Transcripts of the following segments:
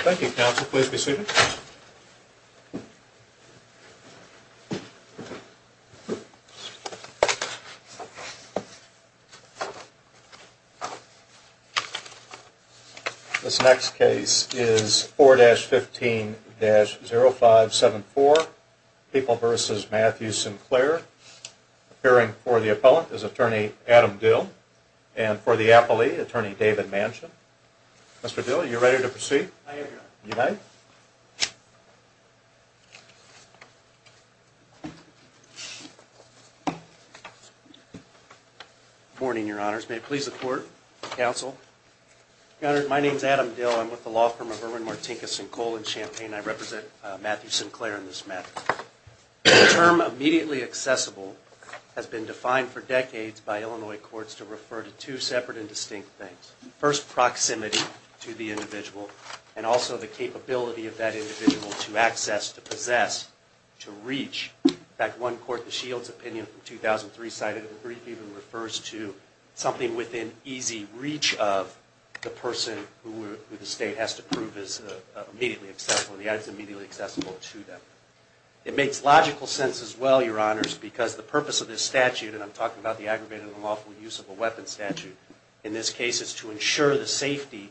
Thank you, counsel. Please be seated. This next case is 4-15-0574. People v. Matthew Sinclair. Appearing for the appellant is attorney Adam Dill. And for the appellee, attorney David Manson. Mr. Dill, are you ready to proceed? I am, your honor. You may. Good morning, your honors. May it please the court, counsel. Your honor, my name is Adam Dill. I'm with the law firm of Irwin Martinkus & Co. in Champaign. I represent Matthew Sinclair in this matter. The term immediately accessible has been defined for decades by Illinois courts to refer to two separate and distinct things. First, proximity to the individual. And also the capability of that individual to access, to possess, to reach. In fact, one court, the Shields opinion from 2003 cited, even refers to something within easy reach of the person who the state has to prove that is immediately accessible to them. It makes logical sense as well, your honors, because the purpose of this statute, and I'm talking about the aggravated and unlawful use of a weapon statute, in this case is to ensure the safety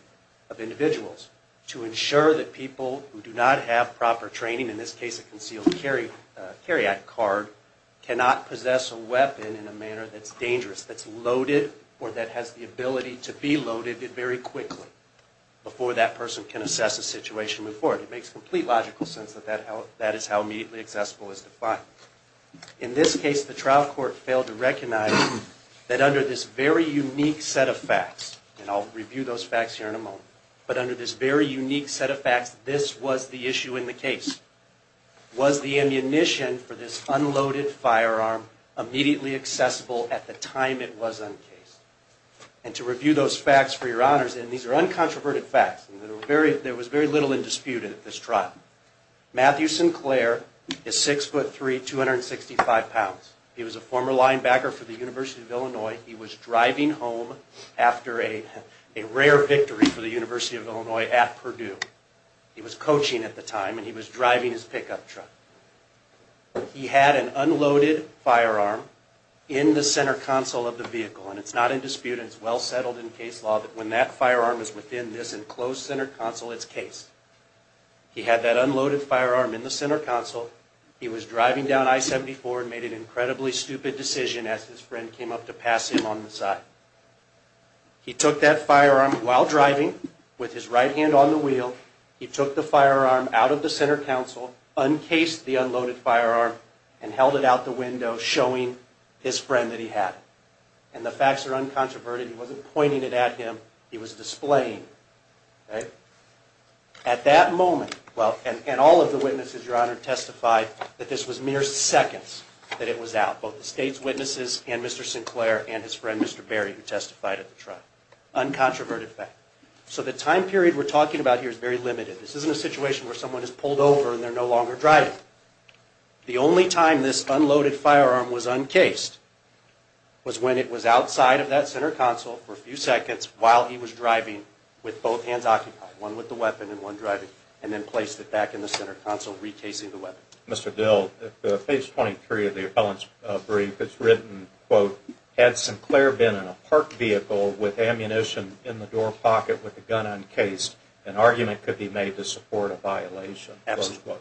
of individuals. To ensure that people who do not have proper training, in this case a concealed carryout card, cannot possess a weapon in a manner that's dangerous, that's loaded, or that has the ability to be loaded very quickly before that person can assess a situation and move forward. It makes complete logical sense that that is how immediately accessible is defined. In this case, the trial court failed to recognize that under this very unique set of facts, and I'll review those facts here in a moment, but under this very unique set of facts, this was the issue in the case. Was the ammunition for this unloaded firearm immediately accessible at the time it was uncased? And to review those facts for your honors, and these are uncontroverted facts, there was very little in dispute at this trial. Matthew Sinclair is 6'3", 265 pounds. He was a former linebacker for the University of Illinois. He was driving home after a rare victory for the University of Illinois at Purdue. He was coaching at the time, and he was driving his pickup truck. He had an unloaded firearm in the center console of the vehicle, and it's not in dispute and it's well settled in case law that when that firearm is within this enclosed center console, it's cased. He had that unloaded firearm in the center console. He was driving down I-74 and made an incredibly stupid decision as his friend came up to pass him on the side. He took that firearm while driving with his right hand on the wheel. He took the firearm out of the center console, uncased the unloaded firearm, and held it out the window showing his friend that he had it. And the facts are uncontroverted. He wasn't pointing it at him. He was displaying it. At that moment, and all of the witnesses, Your Honor, testified that this was mere seconds that it was out, both the state's witnesses and Mr. Sinclair and his friend Mr. Berry who testified at the trial. Uncontroverted fact. So the time period we're talking about here is very limited. This isn't a situation where someone is pulled over and they're no longer driving. The only time this unloaded firearm was uncased was when it was outside of that center console for a few seconds while he was driving with both hands occupied, one with the weapon and one driving, and then placed it back in the center console, recasing the weapon. Mr. Dill, at page 23 of the appellant's brief, it's written, quote, Had Sinclair been in a parked vehicle with ammunition in the door pocket with the gun uncased, an argument could be made to support a violation. Absolutely.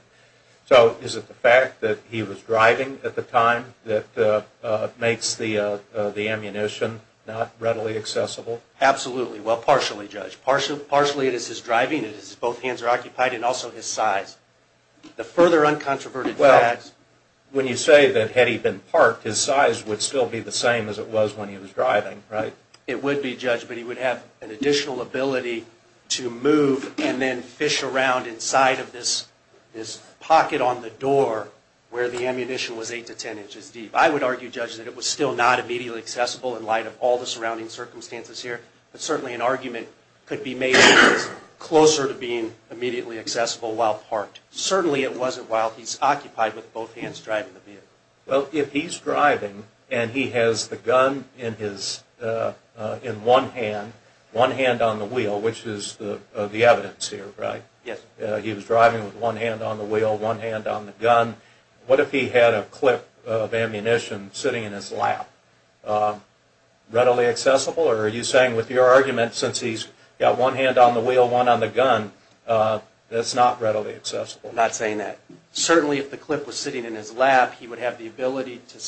So is it the fact that he was driving at the time that makes the ammunition not readily accessible? Absolutely. Well, partially, Judge. Partially it is his driving, it is both hands are occupied, and also his size. The further uncontroverted facts... Well, when you say that had he been parked, his size would still be the same as it was when he was driving, right? It would be, Judge, but he would have an additional ability to move and then fish around inside of this pocket on the door where the ammunition was 8 to 10 inches deep. I would argue, Judge, that it was still not immediately accessible in light of all the surrounding circumstances here, but certainly an argument could be made that it was closer to being immediately accessible while parked. Certainly it wasn't while he's occupied with both hands driving the vehicle. Well, if he's driving and he has the gun in one hand, one hand on the wheel, which is the evidence here, right? Yes. He was driving with one hand on the wheel, one hand on the gun. What if he had a clip of ammunition sitting in his lap? Readily accessible? Or are you saying with your argument, since he's got one hand on the wheel, one on the gun, that's not readily accessible? I'm not saying that. Certainly if the clip was sitting in his lap, he would have the ability to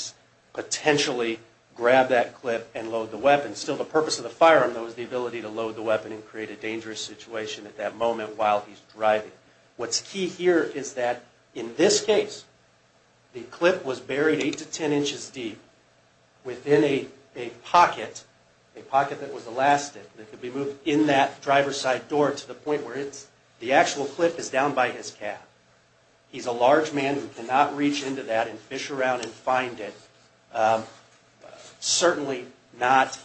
potentially grab that clip and load the weapon. Still, the purpose of the firearm, though, is the ability to load the weapon and create a dangerous situation at that moment while he's driving. What's key here is that in this case, the clip was buried 8 to 10 inches deep within a pocket, a pocket that was elastic that could be moved in that driver's side door to the point where the actual clip is down by his calf. He's a large man who cannot reach into that and fish around and find it. Certainly not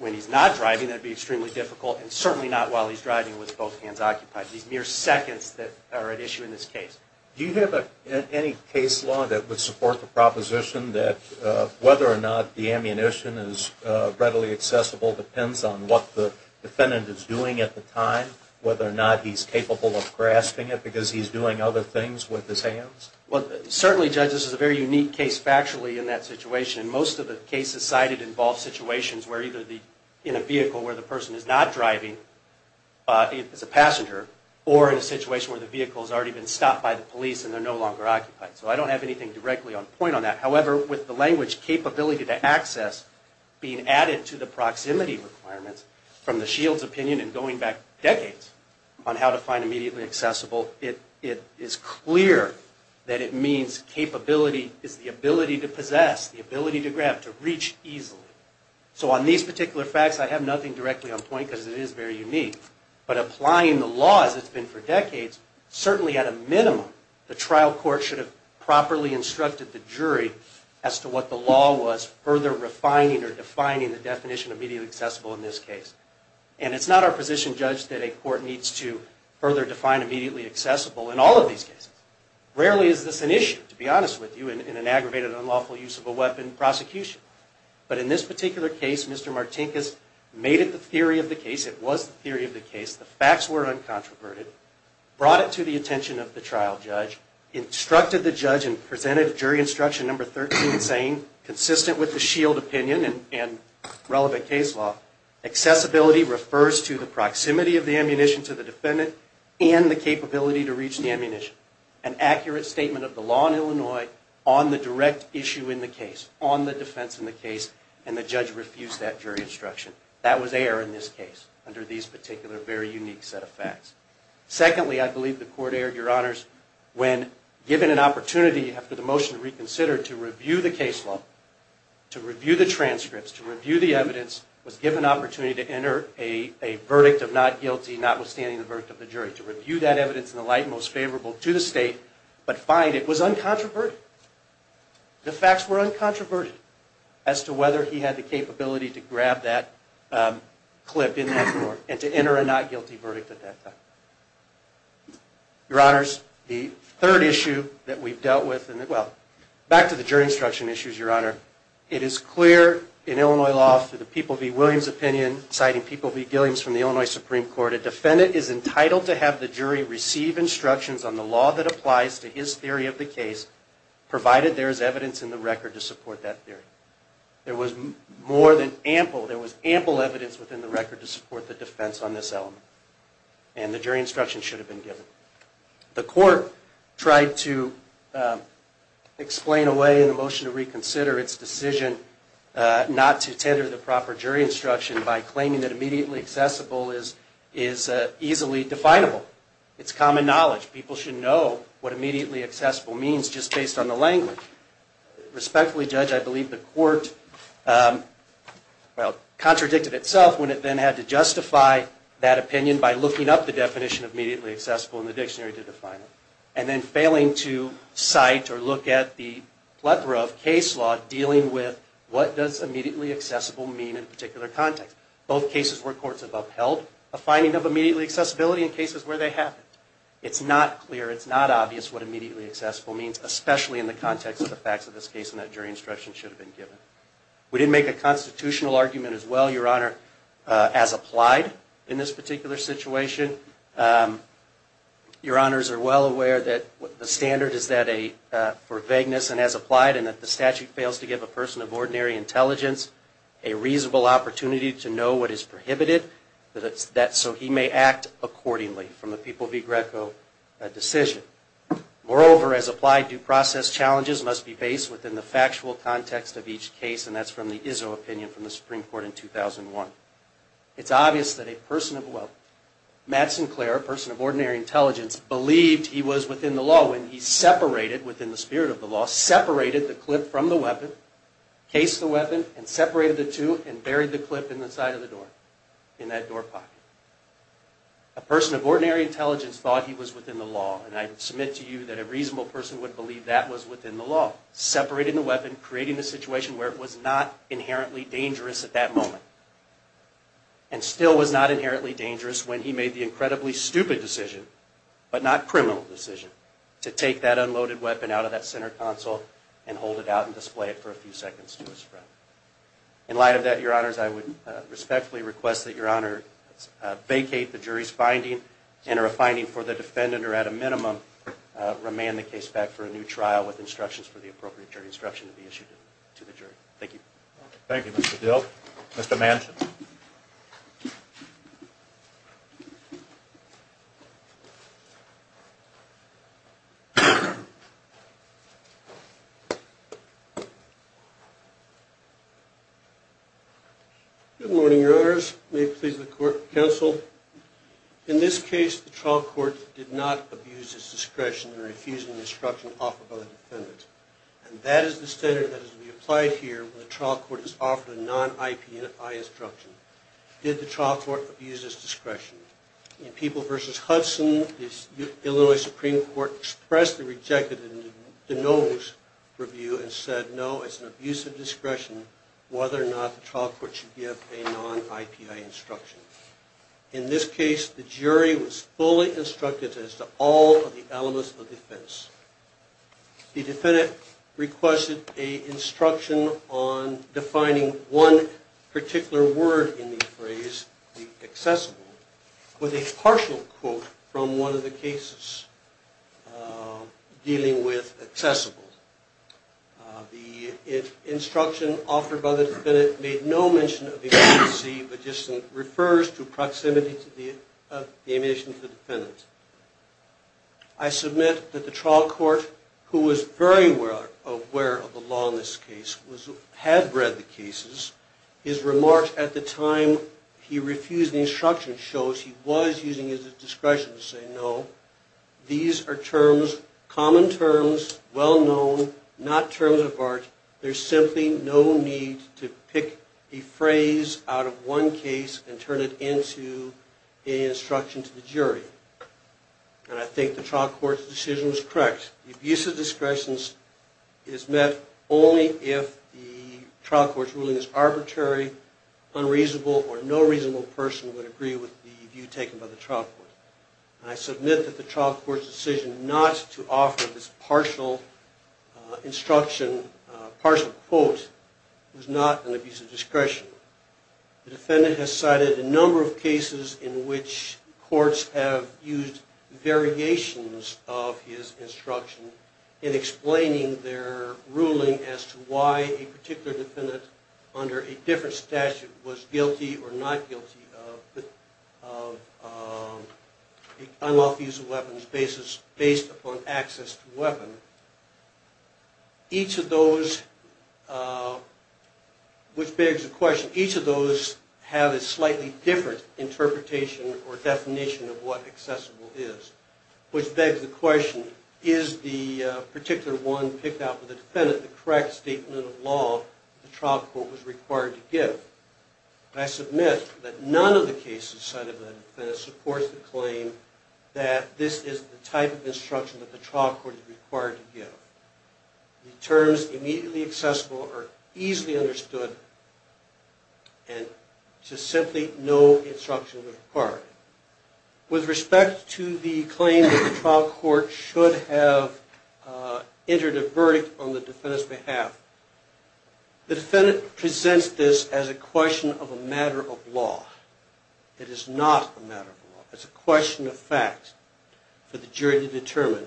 when he's not driving, that would be extremely difficult, and certainly not while he's driving with both hands occupied. These mere seconds that are at issue in this case. Do you have any case law that would support the proposition that whether or not the ammunition is readily accessible depends on what the defendant is doing at the time, whether or not he's capable of grasping it because he's doing other things with his hands? Certainly, Judge, this is a very unique case factually in that situation, and most of the cases cited involve situations where either in a vehicle where the person is not driving as a passenger, or in a situation where the vehicle has already been stopped by the police and they're no longer occupied. So I don't have anything directly on point on that. However, with the language capability to access being added to the proximity requirements from the Shield's opinion in going back decades on how to find immediately accessible, it is clear that it means capability is the ability to possess, the ability to grab, to reach easily. So on these particular facts, I have nothing directly on point because it is very unique. But applying the law as it's been for decades, certainly at a minimum, the trial court should have properly instructed the jury as to what the law was, further refining or defining the definition of immediately accessible in this case. And it's not our position, Judge, that a court needs to further define immediately accessible in all of these cases. Rarely is this an issue, to be honest with you, in an aggravated, unlawful use of a weapon prosecution. But in this particular case, Mr. Martinkus made it the theory of the case. It was the theory of the case. The facts were uncontroverted, brought it to the attention of the trial judge, instructed the judge and presented jury instruction number 13 saying, consistent with the S.H.I.E.L.D. opinion and relevant case law, accessibility refers to the proximity of the ammunition to the defendant and the capability to reach the ammunition. An accurate statement of the law in Illinois on the direct issue in the case, on the defense in the case, and the judge refused that jury instruction. That was air in this case under these particular very unique set of facts. Secondly, I believe the court aired, Your Honors, when given an opportunity after the motion to reconsider to review the case law, to review the transcripts, to review the evidence, was given an opportunity to enter a verdict of not guilty, notwithstanding the verdict of the jury, to review that evidence in the light most favorable to the state, but find it was uncontroverted. The facts were uncontroverted as to whether he had the capability to grab that clip in that court and to enter a not guilty verdict at that time. Your Honors, the third issue that we've dealt with, well, back to the jury instruction issues, Your Honor. It is clear in Illinois law through the People v. Williams opinion, citing People v. Gilliams from the Illinois Supreme Court, a defendant is entitled to have the jury receive instructions on the law that applies to his theory of the case, provided there is evidence in the record to support that theory. And the jury instruction should have been given. The court tried to explain away in the motion to reconsider its decision not to tender the proper jury instruction by claiming that immediately accessible is easily definable. It's common knowledge. People should know what immediately accessible means just based on the language. Respectfully, Judge, I believe the court, well, contradicted itself when it then had to justify that opinion by looking up the definition of immediately accessible in the dictionary to define it. And then failing to cite or look at the plethora of case law dealing with what does immediately accessible mean in a particular context. Both cases where courts have upheld a finding of immediately accessibility in cases where they haven't. It's not clear, it's not obvious what immediately accessible means, especially in the context of the facts of this case and that jury instruction should have been given. We didn't make a constitutional argument as well, Your Honor, as applied in this particular situation. Your Honors are well aware that the standard is that for vagueness and as applied and that the statute fails to give a person of ordinary intelligence a reasonable opportunity to know what is prohibited so he may act accordingly from the People v. Greco decision. Moreover, as applied, due process challenges must be based within the factual context of each case and that's from the Izzo opinion from the Supreme Court in 2001. It's obvious that a person of, well, Matt Sinclair, a person of ordinary intelligence, believed he was within the law when he separated, within the spirit of the law, separated the clip from the weapon, cased the weapon, and separated the two and buried the clip in the side of the door, in that door pocket. A person of ordinary intelligence thought he was within the law and I submit to you that a reasonable person would believe that was within the law. Separating the weapon, creating a situation where it was not inherently dangerous at that moment and still was not inherently dangerous when he made the incredibly stupid decision, but not criminal decision, to take that unloaded weapon out of that center console and hold it out and display it for a few seconds to his friend. In light of that, Your Honors, I would respectfully request that Your Honors vacate the jury's finding, enter a finding for the defendant, or at a minimum, remand the case back for a new trial with instructions for the appropriate jury instruction to be issued to the jury. Thank you. Thank you, Mr. Dill. Mr. Manson. Good morning, Your Honors. May it please the court, counsel. In this case, the trial court did not abuse its discretion in refusing the instruction offered by the defendant. And that is the standard that is to be applied here when the trial court is offered a non-IPI instruction. Did the trial court abuse its discretion? In People v. Hudson, the Illinois Supreme Court expressly rejected the De Novo's review and said, no, it's an abuse of discretion whether or not the trial court should give a non-IPI instruction. In this case, the jury was fully instructed as to all of the elements of defense. The defendant requested an instruction on defining one particular word in the phrase, the accessible, with a partial quote from one of the cases dealing with accessible. The instruction offered by the defendant made no mention of the emergency, but just refers to proximity of the ammunition to the defendant. I submit that the trial court, who was very aware of the law in this case, had read the cases. His remarks at the time he refused the instruction shows he was using his discretion to say no. These are terms, common terms, well known, not terms of art. There's simply no need to pick a phrase out of one case and turn it into an instruction to the jury. And I think the trial court's decision was correct. The abuse of discretion is met only if the trial court's ruling is arbitrary, unreasonable, or no reasonable person would agree with the view taken by the trial court. And I submit that the trial court's decision not to offer this partial instruction, partial quote, was not an abuse of discretion. The defendant has cited a number of cases in which courts have used variations of his instruction in explaining their ruling as to why a particular defendant under a different statute was guilty or not guilty of unlawful use of weapons based upon access to weapon. Each of those, which begs the question, each of those have a slightly different interpretation or definition of what accessible is, which begs the question, is the particular one picked out for the defendant the correct statement of law the trial court was required to give? And I submit that none of the cases cited by the defendant supports the claim that this is the type of instruction that the trial court is required to give. The terms immediately accessible are easily understood, and there's simply no instruction required. With respect to the claim that the trial court should have entered a verdict on the defendant's behalf, the defendant presents this as a question of a matter of law. It is not a matter of law. It's a question of fact for the jury to determine.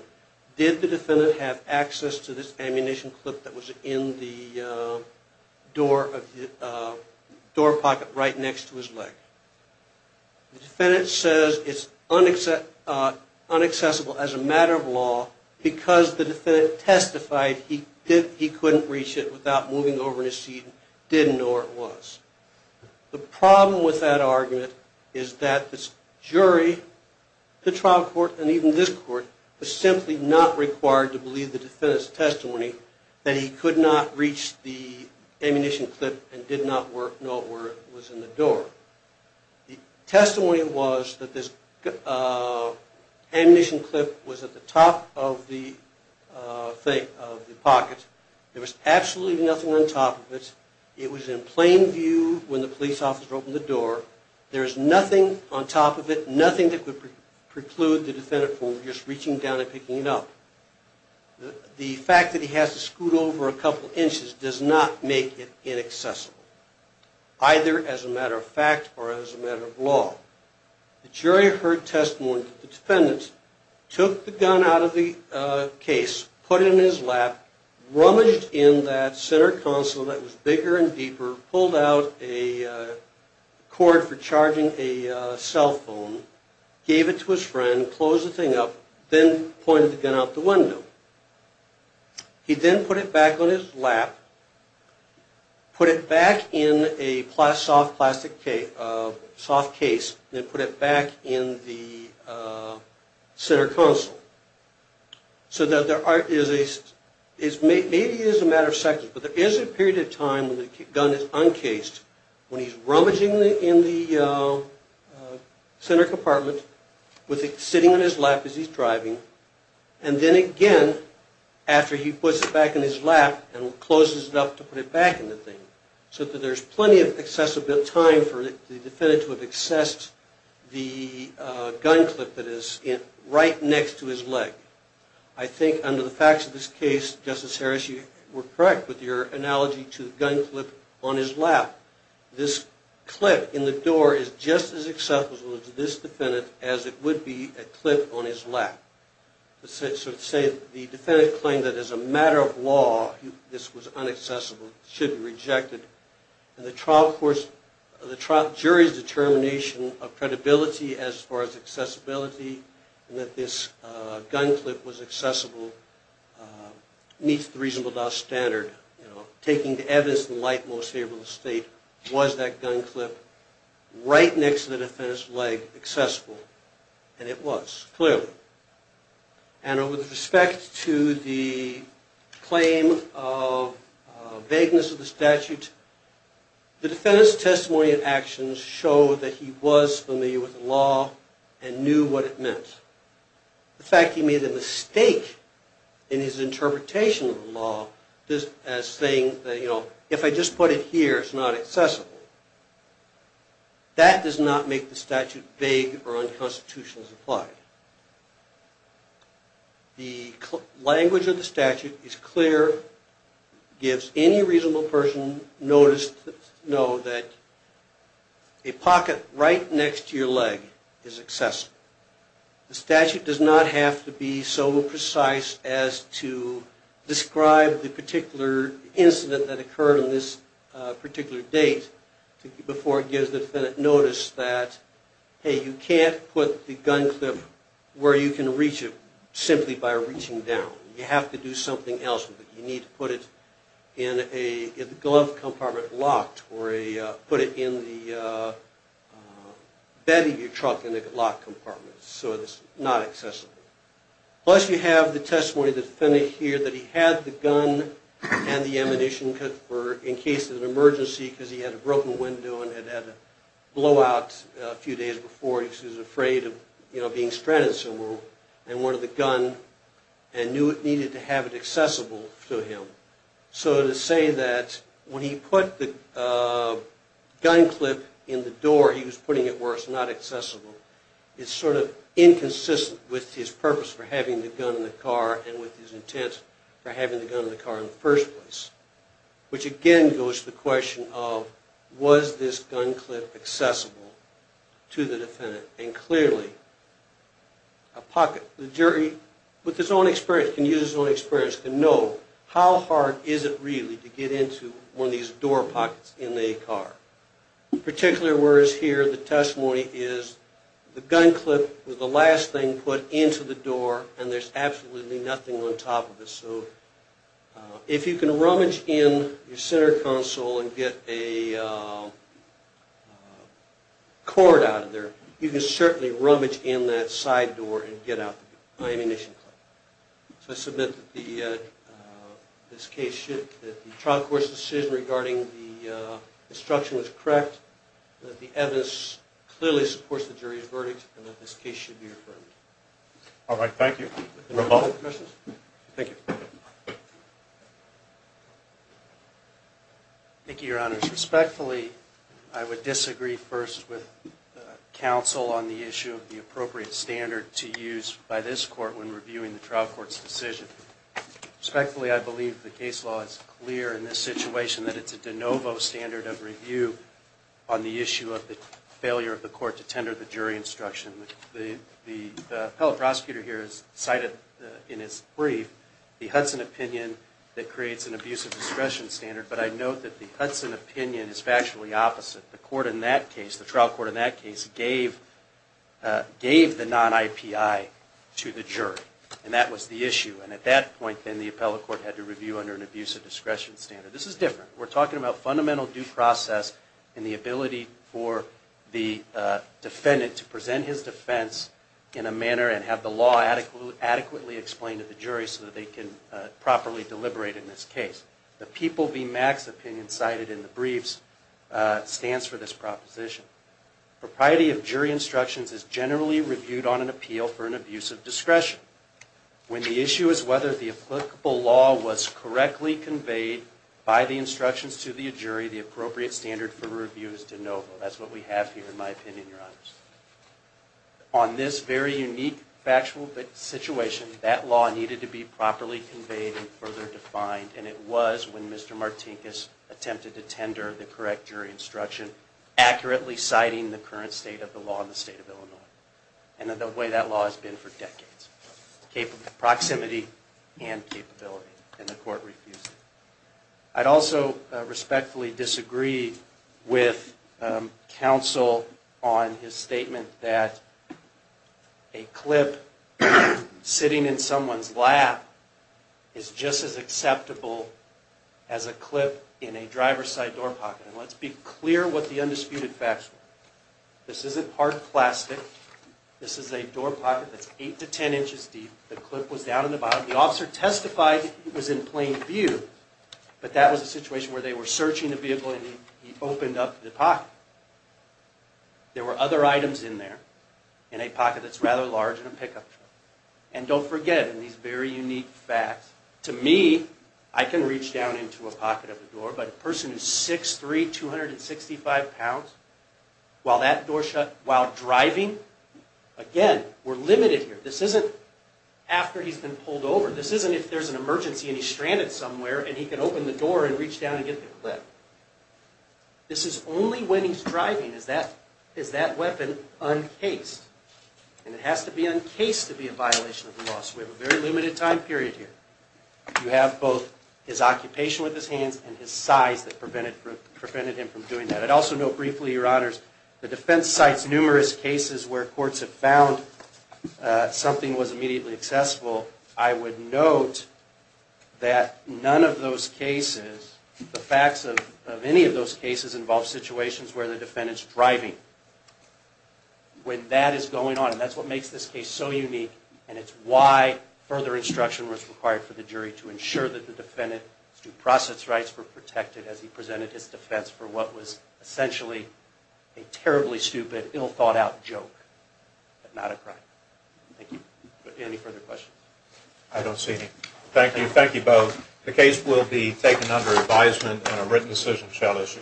Did the defendant have access to this ammunition clip that was in the door pocket right next to his leg? The defendant says it's unaccessible as a matter of law because the defendant testified he couldn't reach it without moving over in his seat and didn't know where it was. The problem with that argument is that this jury, the trial court, and even this court, was simply not required to believe the defendant's testimony that he could not reach the ammunition clip and did not know where it was in the door. The testimony was that this ammunition clip was at the top of the pocket. There was absolutely nothing on top of it. It was in plain view when the police officer opened the door. There is nothing on top of it, nothing that could preclude the defendant from just reaching down and picking it up. The fact that he has to scoot over a couple inches does not make it inaccessible, either as a matter of fact or as a matter of law. The jury heard testimony that the defendant took the gun out of the case, put it in his lap, rummaged in that center console that was bigger and deeper, pulled out a cord for charging a cell phone, gave it to his friend, closed the thing up, then pointed the gun out the window. He then put it back on his lap, put it back in a soft case, and then put it back in the center console. So maybe it is a matter of seconds, but there is a period of time when the gun is uncased, when he's rummaging in the center compartment with it sitting on his lap as he's driving, and then again after he puts it back in his lap and closes it up to put it back in the thing. So there's plenty of time for the defendant to have accessed the gun clip that is right next to his leg. I think under the facts of this case, Justice Harris, you were correct with your analogy to the gun clip on his lap. This clip in the door is just as accessible to this defendant as it would be a clip on his lap. So to say the defendant claimed that as a matter of law this was unaccessible should be rejected. The jury's determination of credibility as far as accessibility and that this gun clip was accessible meets the reasonable doubt standard, taking the evidence in the light most favorable to the state. Was that gun clip right next to the defendant's leg accessible? And it was, clearly. And with respect to the claim of vagueness of the statute, the defendant's testimony and actions show that he was familiar with the law and knew what it meant. The fact he made a mistake in his interpretation of the law as saying, you know, if I just put it here, it's not accessible, that does not make the statute vague or unconstitutional as applied. The language of the statute is clear, gives any reasonable person notice to know that a pocket right next to your leg is accessible. The statute does not have to be so precise as to describe the particular incident that occurred on this particular date before it gives the defendant notice that, hey, you can't put the gun clip where you can reach it simply by reaching down. You have to do something else with it. You need to put it in a glove compartment locked or put it in the bed of your truck in a locked compartment so it's not accessible. Plus you have the testimony of the defendant here that he had the gun and the ammunition in case of an emergency because he had a broken window and had had a blowout a few days before because he was afraid of being stranded somewhere and wanted the gun and knew it needed to have it accessible to him. So to say that when he put the gun clip in the door he was putting it where it's not accessible is sort of inconsistent with his purpose for having the gun in the car and with his intent for having the gun in the car in the first place, which again goes to the question of was this gun clip accessible to the defendant. And clearly a pocket, the jury with his own experience, can use his own experience to know how hard is it really to get into one of these door pockets in a car. In particular, whereas here the testimony is the gun clip was the last thing put into the door and there's absolutely nothing on top of it. So if you can rummage in your center console and get a cord out of there, you can certainly rummage in that side door and get out the ammunition clip. So I submit that the trial court's decision regarding the destruction was correct, that the evidence clearly supports the jury's verdict, and that this case should be reaffirmed. All right, thank you. Thank you. Thank you, Your Honors. Respectfully, I would disagree first with counsel on the issue of the appropriate standard to use by this court when reviewing the trial court's decision. Respectfully, I believe the case law is clear in this situation that it's a de novo standard of review on the issue of the failure of the court to tender the jury instruction. The appellate prosecutor here has cited in his brief the Hudson opinion that creates an abusive discretion standard. But I note that the Hudson opinion is factually opposite. The trial court in that case gave the non-IPI to the jury, and that was the issue. And at that point, then, the appellate court had to review under an abusive discretion standard. This is different. We're talking about fundamental due process and the ability for the defendant to present his defense in a manner and have the law adequately explained to the jury so that they can properly deliberate in this case. The People v. Max opinion cited in the briefs stands for this proposition. Propriety of jury instructions is generally reviewed on an appeal for an abusive discretion. When the issue is whether the applicable law was correctly conveyed by the instructions to the jury, the appropriate standard for review is de novo. That's what we have here, in my opinion, Your Honors. On this very unique factual situation, that law needed to be properly conveyed and further defined, and it was when Mr. Martinkus attempted to tender the correct jury instruction, accurately citing the current state of the law in the state of Illinois and the way that law has been for decades. Proximity and capability, and the court refused it. I'd also respectfully disagree with counsel on his statement that a clip sitting in someone's lap is just as acceptable as a clip in a driver's side door pocket. And let's be clear what the undisputed facts were. This isn't hard plastic. This is a door pocket that's 8 to 10 inches deep. The clip was down in the bottom. The officer testified it was in plain view, but that was a situation where they were searching the vehicle and he opened up the pocket. There were other items in there, in a pocket that's rather large in a pickup truck. And don't forget, in these very unique facts, to me, I can reach down into a pocket of a door, but a person who's 6'3", 265 pounds, while driving, again, we're limited here. This isn't after he's been pulled over. This isn't if there's an emergency and he's stranded somewhere and he can open the door and reach down and get the clip. This is only when he's driving is that weapon uncased. And it has to be uncased to be a violation of the law, so we have a very limited time period here. You have both his occupation with his hands and his size that prevented him from doing that. I'd also note briefly, Your Honors, the defense cites numerous cases where courts have found something was immediately accessible. I would note that none of those cases, the facts of any of those cases, involve situations where the defendant's driving. When that is going on, and that's what makes this case so unique, and it's why further instruction was required for the jury to ensure that the defendant's due process rights were protected as he presented his defense for what was essentially a terribly stupid, ill-thought-out joke, but not a crime. Thank you. Any further questions? I don't see any. Thank you. Thank you both. The case will be taken under advisement and a written decision shall issue.